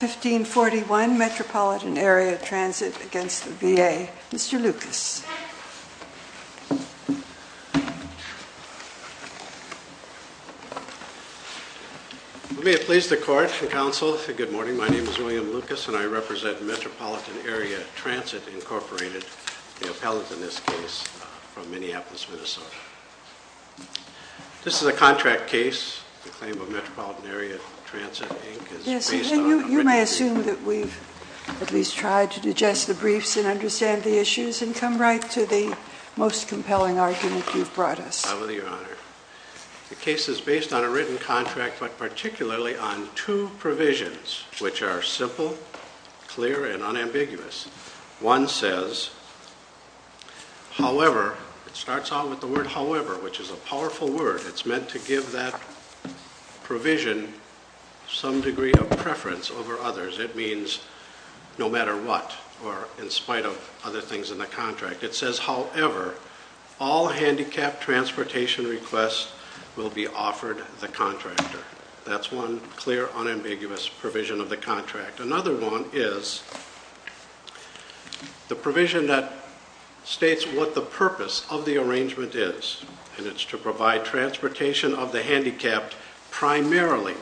1541 Metropolitan Area Transit v. VA. Mr. Lucas. May it please the Court and Council, good morning. My name is William Lucas and I represent Metropolitan Area Transit, Incorporated, the appellate in this case from Minneapolis, Minnesota. This is a contract case, the claim of Metropolitan Area Transit, Inc. is based on a written contract. You may assume that we've at least tried to digest the briefs and understand the issues and come right to the most compelling argument you've brought us. I will, Your Honor. The case is based on a written contract but particularly on two provisions which are simple, clear, and unambiguous. One says, however, it starts out with the however, which is a powerful word. It's meant to give that provision some degree of preference over others. It means no matter what or in spite of other things in the contract. It says however, all handicapped transportation requests will be offered the contractor. That's one clear, unambiguous provision of the contract. Another one is the provision that states what the purpose of the arrangement is. And it's to provide transportation of the handicapped primarily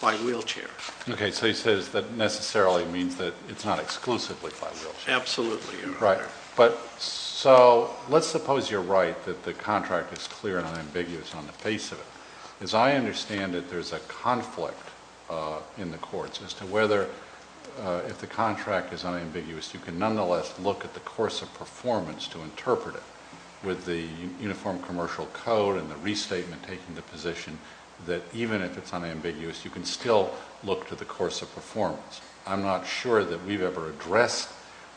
by wheelchair. Okay, so he says that necessarily means that it's not exclusively by wheelchair. Absolutely, Your Honor. So let's suppose you're right that the contract is clear and unambiguous on the face of it. As I understand it, there's a conflict in the courts as to whether, if the contract is unambiguous, you can nonetheless look at the course of performance to interpret it. With the Uniform Commercial Code and the restatement taking the position that even if it's unambiguous, you can still look to the course of performance. I'm not sure that we've ever addressed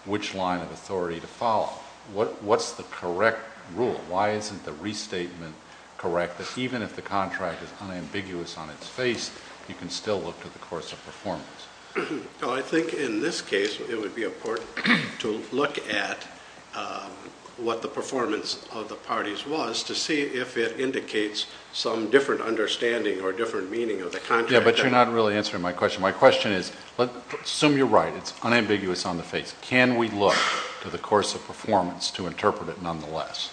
which line of authority to follow. What's the correct rule? Why isn't the restatement correct that even if the contract is unambiguous on its face, you can still look to the course of performance? Well, I think in this case, it would be important to look at what the performance of the parties was to see if it indicates some different understanding or different meaning of the contract. Yeah, but you're not really answering my question. My question is, assume you're right, it's unambiguous on the face. Can we look to the course of performance to interpret it nonetheless?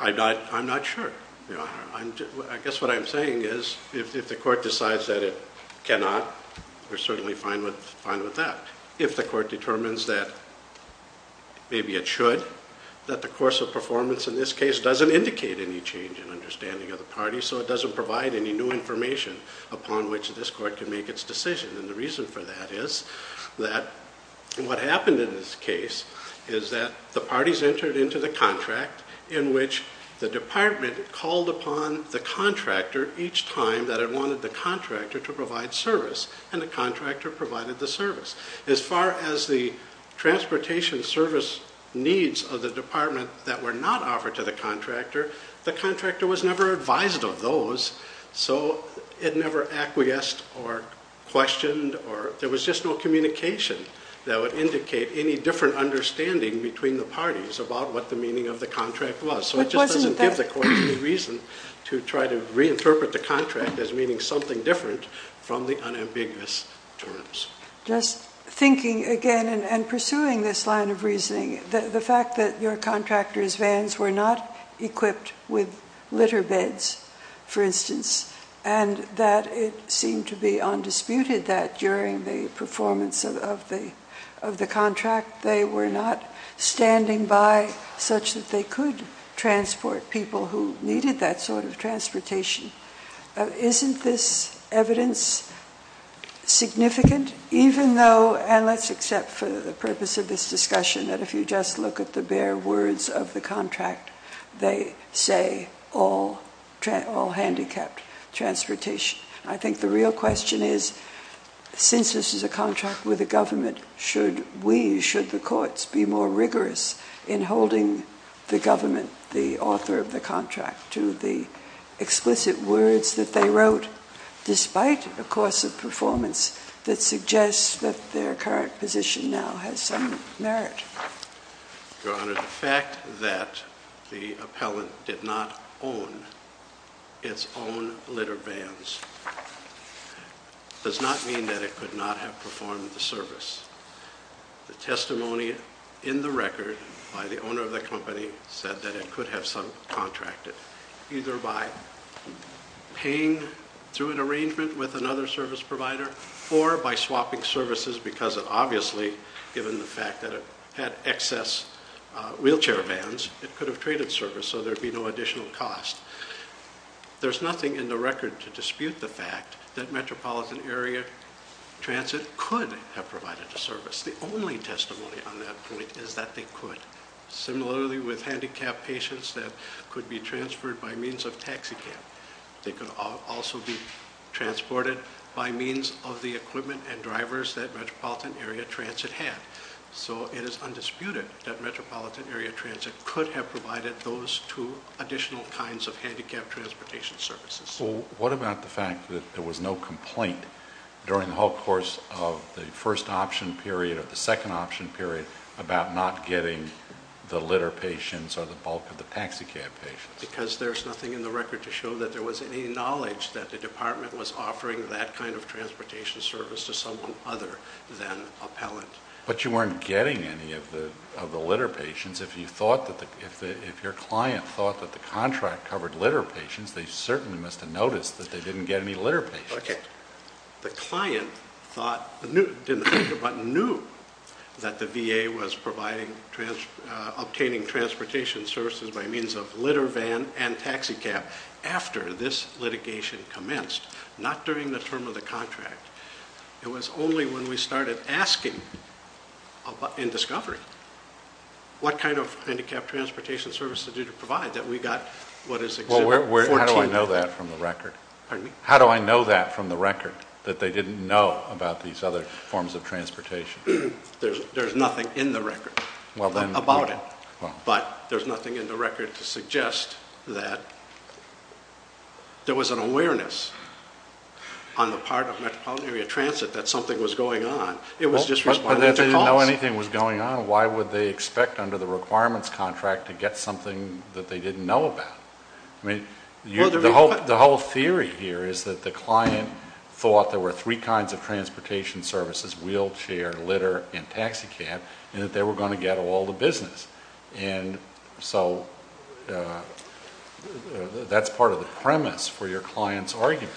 I'm not sure. I guess what I'm saying is, if the court decides that it cannot, we're certainly fine with that. If the court determines that maybe it should, that the course of performance in this case doesn't indicate any change in understanding of the parties, so it doesn't provide any new information upon which this court can make its decision. And the reason for that is that what happened in this case is that the parties entered into the contract in which the department called upon the contractor each time that it wanted the contractor to provide service, and the contractor provided the service. As far as the transportation service needs of the department that were not offered to the contractor, the contractor was never advised of those, so it never acquiesced or questioned, or there was just no communication that would indicate any different understanding between the parties about what the meaning of the contract was. So it just doesn't give the court any reason to try to reinterpret the contract as meaning something different from the unambiguous terms. Just thinking again and pursuing this line of reasoning, the fact that your contractor's not equipped with litter beds, for instance, and that it seemed to be undisputed that during the performance of the contract they were not standing by such that they could transport people who needed that sort of transportation, isn't this evidence significant, even though – and let's accept for the purpose of this discussion that if you just look at the words of the contract, they say all handicapped transportation. I think the real question is, since this is a contract with the government, should we, should the courts, be more rigorous in holding the government, the author of the contract, to the explicit words that they wrote, despite a course of performance that suggests that their current position now has some merit? Your Honor, the fact that the appellant did not own its own litter beds does not mean that it could not have performed the service. The testimony in the record by the owner of the company said that it could have subcontracted, either by paying through an arrangement with another service provider or by swapping services because it obviously, given the fact that it had excess wheelchair vans, it could have traded service so there'd be no additional cost. There's nothing in the record to dispute the fact that metropolitan area transit could have provided the service. The only testimony on that point is that they could. Similarly with handicapped patients that could be transferred by means of taxi cab. They could also be transported by means of the equipment and drivers that metropolitan area transit had. So it is undisputed that metropolitan area transit could have provided those two additional kinds of handicapped transportation services. What about the fact that there was no complaint during the whole course of the first option period or the second option period about not getting the litter patients or the bulk of the taxi cab patients? Because there's nothing in the record to show that there was any knowledge that the department was offering that kind of transportation service to someone other than appellant. But you weren't getting any of the litter patients. If your client thought that the contract covered litter patients, they certainly must have noticed that they didn't get any litter patients. The client thought, knew that the VA was obtaining transportation services by means of litter patients, not during the term of the contract. It was only when we started asking in discovery what kind of handicapped transportation services did it provide that we got what is exhibited. How do I know that from the record? How do I know that from the record that they didn't know about these other forms of transportation? There's nothing in the record about it. But there's nothing in the record to suggest that there was an awareness on the part of metropolitan area transit that something was going on. It was just responding to costs. But if they didn't know anything was going on, why would they expect under the requirements contract to get something that they didn't know about? The whole theory here is that the client thought there were three kinds of transportation services, wheelchair, litter, and taxi cab, and that they were going to get all the business. That's part of the premise for your client's argument.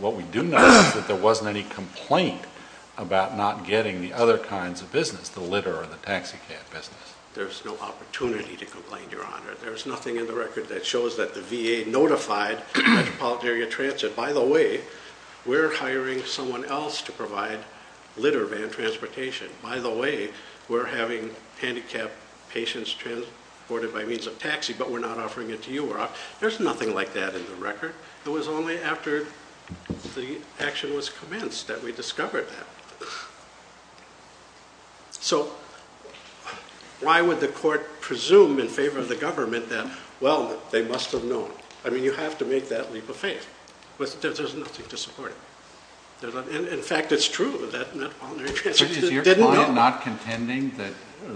What we do know is that there wasn't any complaint about not getting the other kinds of business, the litter or the taxi cab business. There's no opportunity to complain, Your Honor. There's nothing in the record that shows that the VA notified metropolitan area transit, by the way, we're hiring someone else to provide litter van transportation. By the way, we're having handicapped patients transported by means of taxi, but we're not offering it to you. There's nothing like that in the record. It was only after the action was commenced that we discovered that. So why would the court presume in favor of the government that, well, they must have known? I mean, you have to make that leap of faith. But there's nothing to support it. Is your client not contending that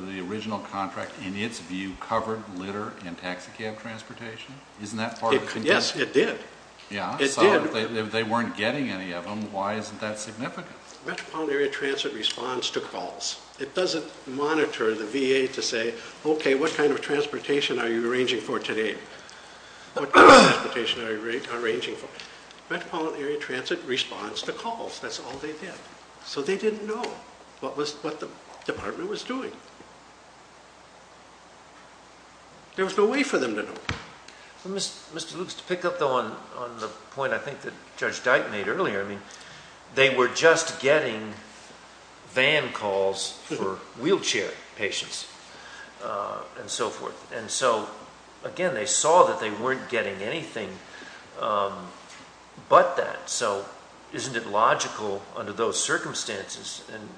the original contract, in its view, covered litter and taxi cab transportation? Isn't that part of the contention? Yes, it did. Yeah? So if they weren't getting any of them, why isn't that significant? Metropolitan area transit responds to calls. It doesn't monitor the VA to say, okay, what kind of transportation are you arranging for today? What kind of transportation are you arranging for? Metropolitan area transit responds to calls. That's all they did. So they didn't know what the department was doing. There was no way for them to know. Mr. Loops, to pick up, though, on the point I think that Judge Dyke made earlier, I mean, they were just getting van calls for wheelchair patients and so forth. And so, again, they saw that they weren't getting anything but that. So isn't it logical under those circumstances and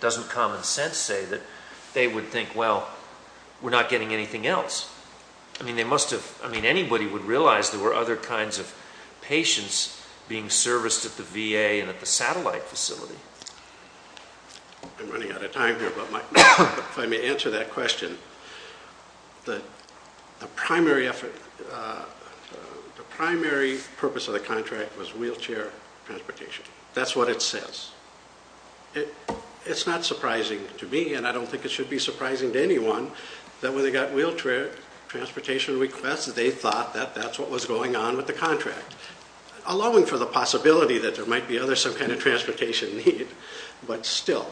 doesn't common sense say that they would think, well, we're not getting anything else? I mean, they must have, I mean, anybody would realize there were other kinds of patients being serviced at the VA and at the satellite facility. I'm running out of time here, but if I may answer that question, the primary effort, the primary purpose of the contract was wheelchair transportation. That's what it says. It's not surprising to me, and I don't think it should be surprising to anyone, that when they got wheelchair transportation requests, they thought that that's what was going on with the contract, allowing for the possibility that there might be other, some kind of transportation need. But still,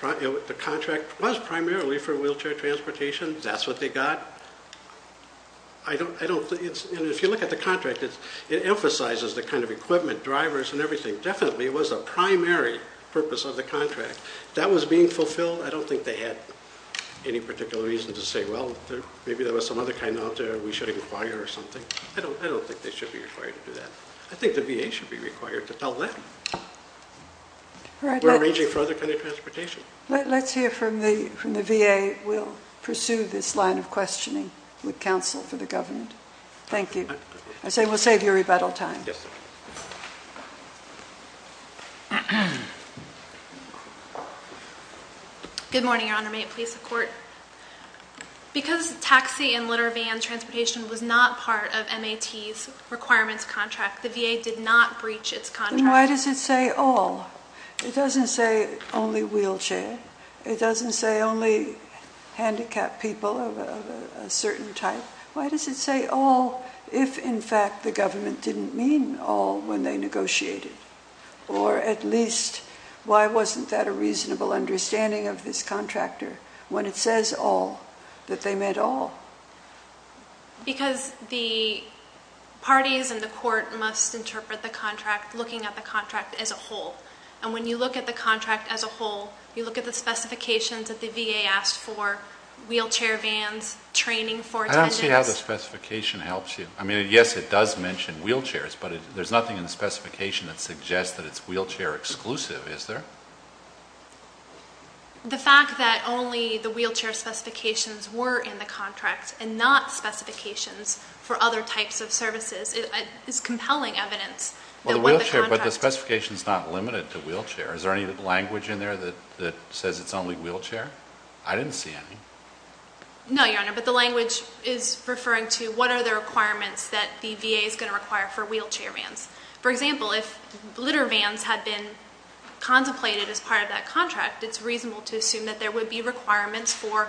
the contract was primarily for wheelchair transportation. That's what they got. I don't, if you look at the contract, it emphasizes the kind of equipment, drivers and everything. Definitely, it was a primary purpose of the contract. That was being fulfilled. I don't think they had any particular reason to say, well, maybe there was some other kind out there we should inquire or something. I don't think they should be required to do that. I think the VA should be required to tell them. We're arranging for other kinds of transportation. Let's hear from the VA. We'll pursue this line of questioning with counsel for the government. Thank you. I say we'll save you rebuttal time. Good morning, Your Honor. May it please the Court? Because taxi and litter van transportation was not part of MAT's requirements contract, the VA did not breach its contract. Then why does it say all? It doesn't say only wheelchair. It doesn't say only handicapped people of a certain type. Why does it say all if, in fact, the government didn't mean all when they negotiated? Or at least, why wasn't that a reasonable understanding of this contractor when it says all, that they meant all? Because the parties and the Court must interpret the contract looking at the contract as a whole. When you look at the contract as a whole, you look at the specifications that wheelchair vans, training for attendants. I don't see how the specification helps you. I mean, yes, it does mention wheelchairs, but there's nothing in the specification that suggests that it's wheelchair exclusive, is there? The fact that only the wheelchair specifications were in the contract and not specifications for other types of services is compelling evidence. Well, the wheelchair, but the specification's not limited to wheelchair. Is there any language in there that says it's only wheelchair? I didn't see any. No, Your Honor, but the language is referring to what are the requirements that the VA is going to require for wheelchair vans. For example, if litter vans had been contemplated as part of that contract, it's reasonable to assume that there would be requirements for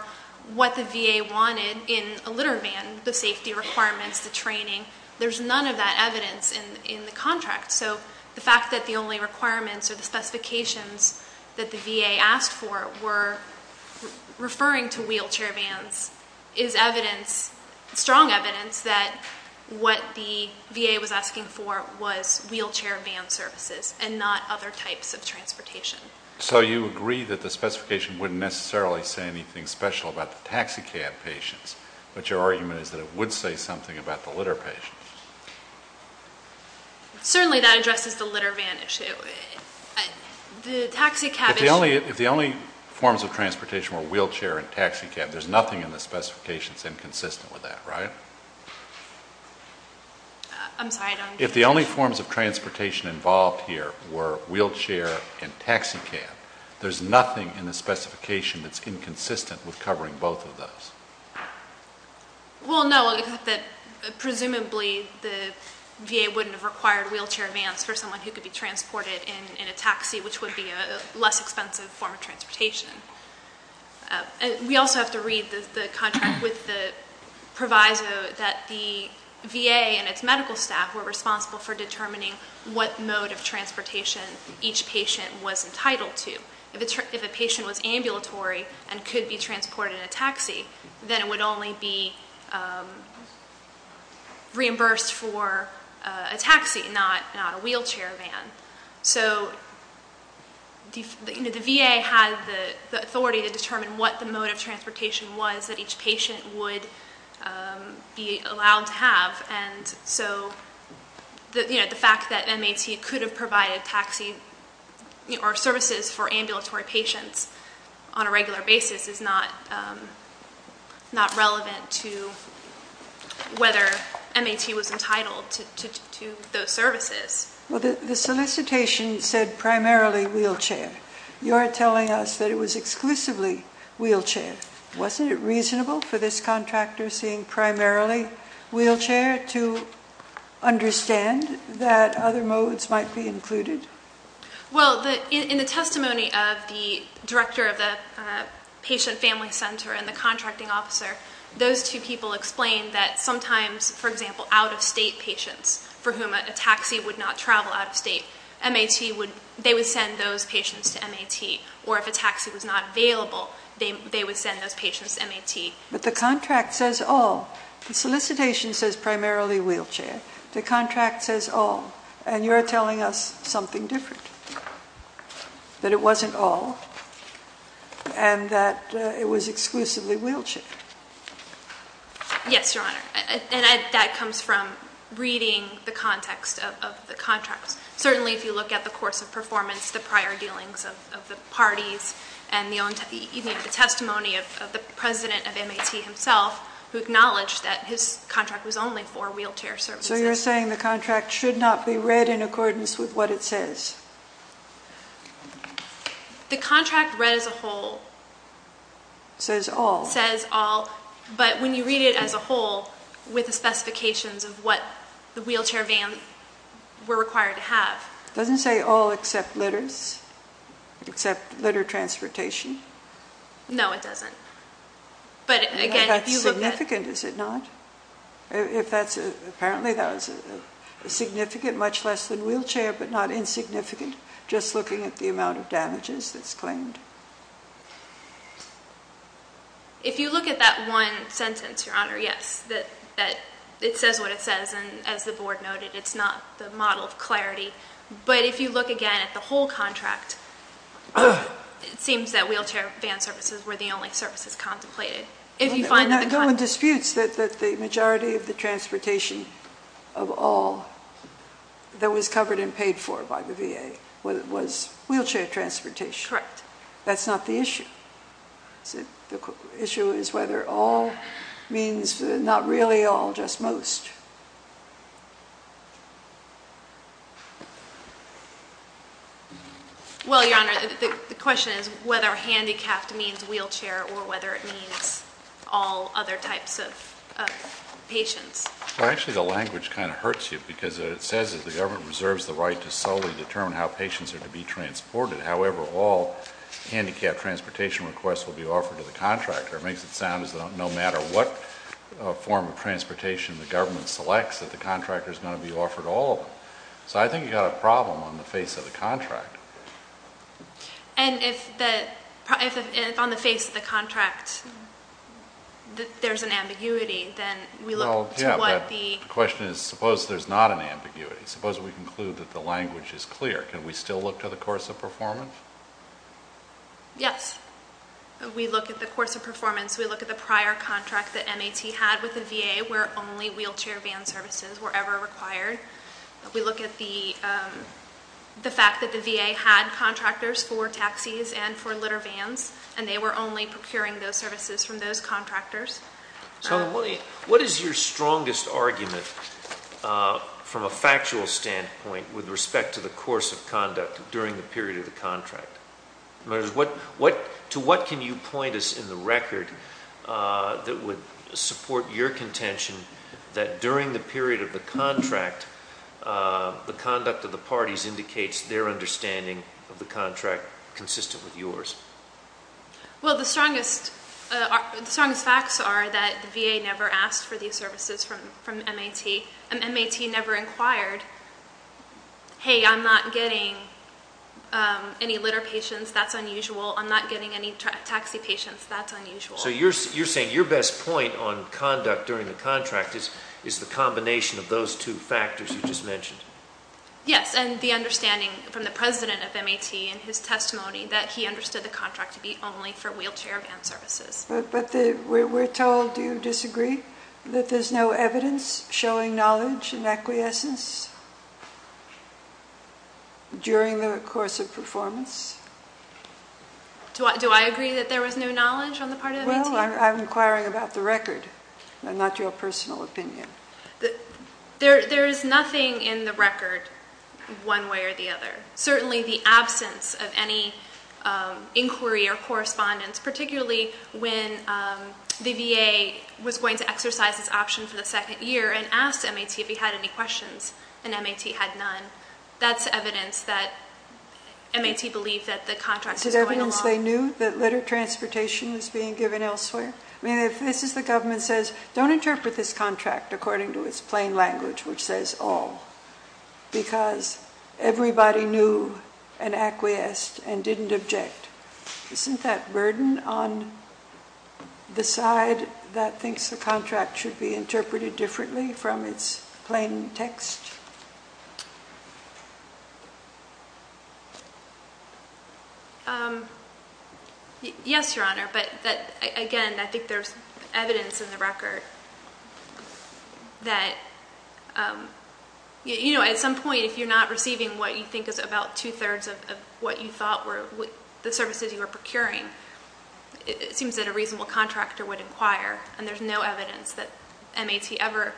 what the VA wanted in a litter van, the safety requirements, the training. There's none of that evidence in the contract. So the fact that the only requirements or the specifications that the VA asked for were referring to wheelchair vans is evidence, strong evidence, that what the VA was asking for was wheelchair van services and not other types of transportation. So you agree that the specification wouldn't necessarily say anything special about the taxi cab patients, but your argument is that it would say something about the litter patients. Certainly that addresses the litter van issue. The taxi cab is... If the only forms of transportation were wheelchair and taxi cab, there's nothing in the specifications inconsistent with that, right? I'm sorry, Your Honor. If the only forms of transportation involved here were wheelchair and taxi cab, there's nothing in the specification that's inconsistent with covering both of those. Well, no, except that presumably the VA wouldn't have required wheelchair vans for someone who could be transported in a taxi, which would be a less expensive form of transportation. We also have to read the contract with the proviso that the VA and its medical staff were responsible for determining what mode of transportation each patient was entitled to. If a patient was ambulatory and could be transported in a taxi, then it would only be reimbursed for a taxi, not a wheelchair van. So the VA had the authority to determine what the mode of transportation was that each patient would be allowed to have. And so the fact that MAT could have provided taxi or services for ambulatory patients on a regular basis is not relevant to whether MAT was entitled to those services. Well, the solicitation said primarily wheelchair. You're telling us that it was exclusively wheelchair. Wasn't it reasonable for this contractor seeing primarily wheelchair to understand that other modes might be included? Well, in the testimony of the director of the patient family center and the contracting officer, those two people explained that sometimes, for example, out of state patients for whom a taxi would not travel out of state, they would send those patients to MAT. Or if a taxi was available, they would send those patients to MAT. But the contract says all. The solicitation says primarily wheelchair. The contract says all. And you're telling us something different, that it wasn't all and that it was exclusively wheelchair. Yes, Your Honor. And that comes from reading the context of the contracts. Certainly if you look at the course of performance, the prior dealings of the parties, and even the testimony of the president of MAT himself, who acknowledged that his contract was only for wheelchair services. So you're saying the contract should not be read in accordance with what it says. The contract read as a whole... Says all. Says all. But when you read it as a whole, with the specifications of what the wheelchair van were required to have... It doesn't say all except litters, except litter transportation. No, it doesn't. But again, if you look at... That's significant, is it not? Apparently that was significant, much less than wheelchair, but not insignificant, just looking at the amount of damages that's claimed. If you look at that one sentence, Your Honor, yes, that it says what it says, and as the board noted, it's not the model of clarity. But if you look again at the whole contract, it seems that wheelchair van services were the only services contemplated. No one disputes that the majority of the transportation of all that was covered and paid for by the VA was wheelchair transportation. Correct. That's not the issue. The issue is whether all means not really all, just most. Well, Your Honor, the question is whether handicapped means wheelchair or whether it means all other types of patients. Actually, the language kind of hurts you, because it says that the government reserves the right to solely determine how patients are to be transported. However, all handicapped transportation requests will be offered to the contractor. It makes it sound as though no matter what form of transportation the government selects, that the contractor is going to be offered all of them. So I think you've got a problem on the face of the contract. And if on the face of the contract there's an ambiguity, then we look to what the... language is clear. Can we still look to the course of performance? Yes. We look at the course of performance. We look at the prior contract that MAT had with the VA where only wheelchair van services were ever required. We look at the fact that the VA had contractors for taxis and for litter vans, and they were only procuring those services from those contractors. What is your strongest argument from a factual standpoint with respect to the course of conduct during the period of the contract? To what can you point us in the record that would support your contention that during the period of the contract, the conduct of the parties indicates their understanding of the contract consistent with yours? Well, the strongest facts are that the VA never asked for these services from MAT, and MAT never inquired, hey, I'm not getting any litter patients, that's unusual. I'm not getting any taxi patients, that's unusual. So you're saying your best point on conduct during the contract is the combination of those two factors you just mentioned? Yes, and the understanding from the president of MAT in his testimony that he understood the contract to be only for wheelchair van services. But we're told, do you disagree, that there's no evidence showing knowledge and acquiescence during the course of performance? Do I agree that there was no knowledge on the part of MAT? Well, I'm inquiring about the record, not your personal opinion. There is nothing in the record one way or the other. Certainly the absence of any inquiry or correspondence, particularly when the VA was going to exercise this option for the second year and asked MAT if he had any questions, and MAT had none. That's evidence that MAT believed that the contract was going along. Is it evidence they knew that litter transportation was being given elsewhere? I mean, if this the government says, don't interpret this contract according to its plain language, which says all, because everybody knew and acquiesced and didn't object, isn't that burden on the side that thinks the contract should be interpreted differently from its plain text? Yes, Your Honor, but again, I think there's evidence in the record that at some point if you're not receiving what you think is about two-thirds of what you thought were the services you were procuring, it seems that a reasonable contractor would inquire, and there's no evidence that MAT ever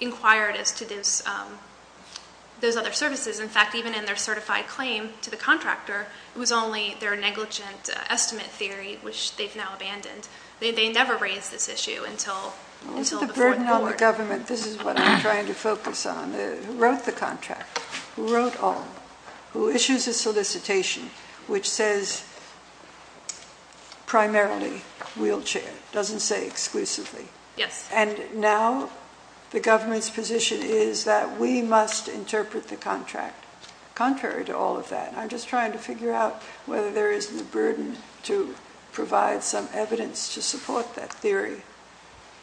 inquired as to those other services. In fact, even in their certified claim to the contractor, it was only their negligent estimate theory, which they've now abandoned. They never raised this issue until the fourth board. Well, isn't the burden on the government, this is what I'm trying to focus on, who wrote the contract, who wrote all, who issues a solicitation which says primarily wheelchair, doesn't say exclusively, and now the government's position is that we must interpret the contract contrary to all of that, and I'm just trying to figure out whether there isn't a burden to provide some evidence to support that theory.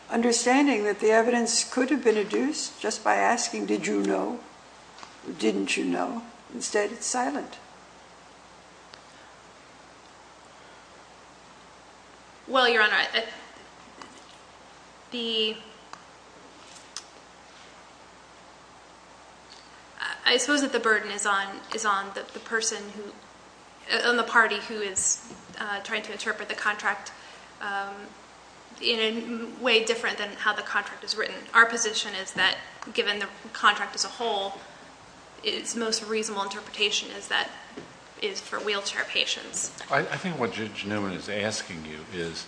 Understanding that the evidence could have been adduced just by asking, did you know or didn't you know? Instead, it's silent. Well, Your Honor, I suppose that the burden is on the party who is trying to interpret the contract in a way different than how the contract is written. Our position is that given the contract as a whole, its most reasonable interpretation is that it's for wheelchair patients. I think what Judge Newman is asking you is,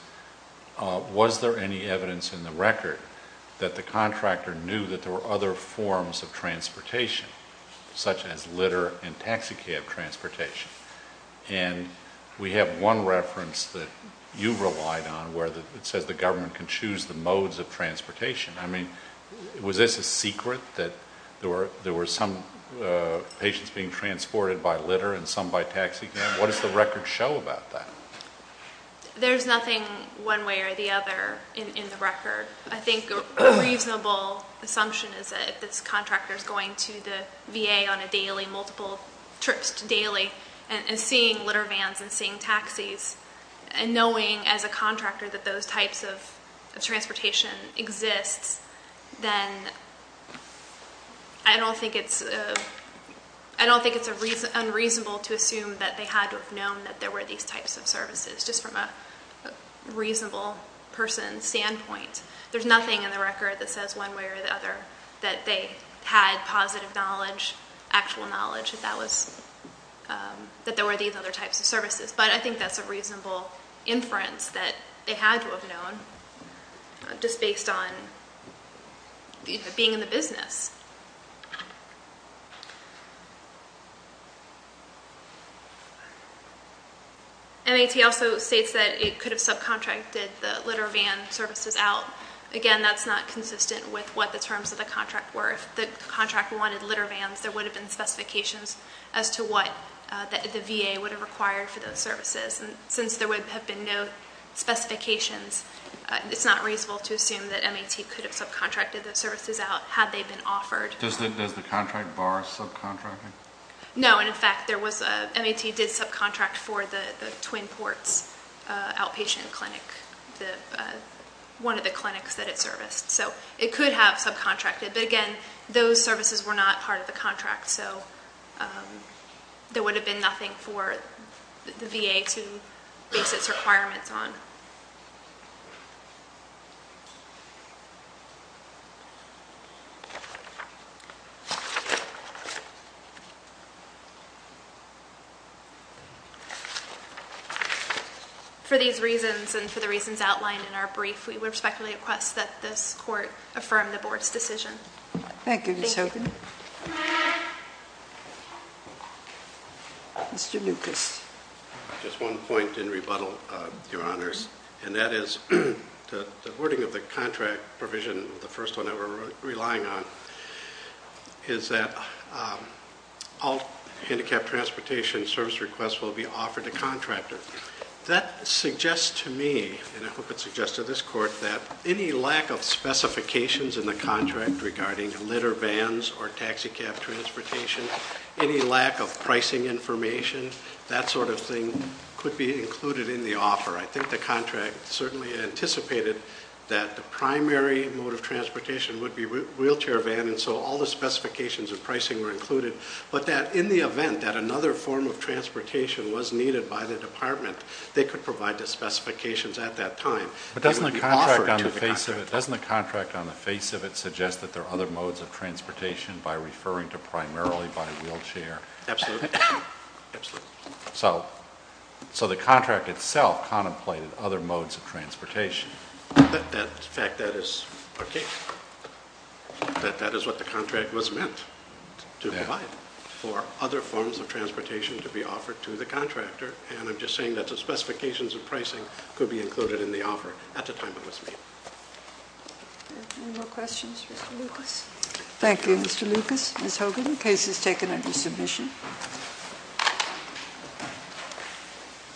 was there any evidence in the record that the contractor knew that there were other forms of transportation, such as litter and taxi cab transportation? And we have one reference that you relied on where it says the government can choose the modes of transportation. I mean, was this a secret that there were some patients being transported by litter and some by taxi cab? What does the record show about that? There's nothing one way or the other in the record. I think a reasonable assumption is that this contractor is going to the VA on a daily, multiple trips daily, and seeing as a contractor that those types of transportation exist, then I don't think it's unreasonable to assume that they had to have known that there were these types of services, just from a reasonable person's standpoint. There's nothing in the record that says one way or the other that they had positive knowledge, actual knowledge, that there were these other types of services. But I think that's a reasonable inference that they had to have known, just based on being in the business. MAT also states that it could have subcontracted the litter van services out. Again, that's not consistent with what the terms of the contract were. If the contract wanted litter vans, there would have been specifications as to what the VA would have required for those services. And since there would have been no specifications, it's not reasonable to assume that MAT could have subcontracted those services out had they been offered. Does the contract bar subcontracting? No, and in fact, MAT did subcontract for the Twin Ports outpatient clinic, one of the clinics that it serviced. So it could have subcontracted. But again, those services were not part of the contract, so there would have been nothing for the VA to base its requirements on. For these reasons and for the reasons outlined in our brief, we would respectfully request that this Court affirm the Board's decision. Thank you, Ms. Hogan. Mr. Lucas. Just one point in rebuttal, Your Honors, and that is the wording of the contract provision, the first one that we're relying on, is that all handicapped transportation service requests will be offered to contractors. That suggests to me, and I hope it suggests to this Court, that any lack of specifications in the contract regarding litter vans or taxicab transportation, any lack of pricing information, that sort of thing, could be included in the offer. I think the contract certainly anticipated that the primary mode of transportation would be wheelchair vans, and so all the specifications of pricing were included, but that in the event that another form of transportation was needed by the Department, they could provide the specifications at that time. But doesn't the contract on the face of it suggest that there are other modes of transportation by referring to primarily by wheelchair? Absolutely. So the contract itself contemplated other modes of transportation. In fact, that is our case, that that is what the contract was meant to provide, for other forms of transportation to be offered to the contractor, and I'm just saying that the specifications of pricing could be included in the offer at the time it was made. Any more questions for Mr. Lucas? Thank you, Mr. Lucas. Ms. Hogan, the case is taken under submission.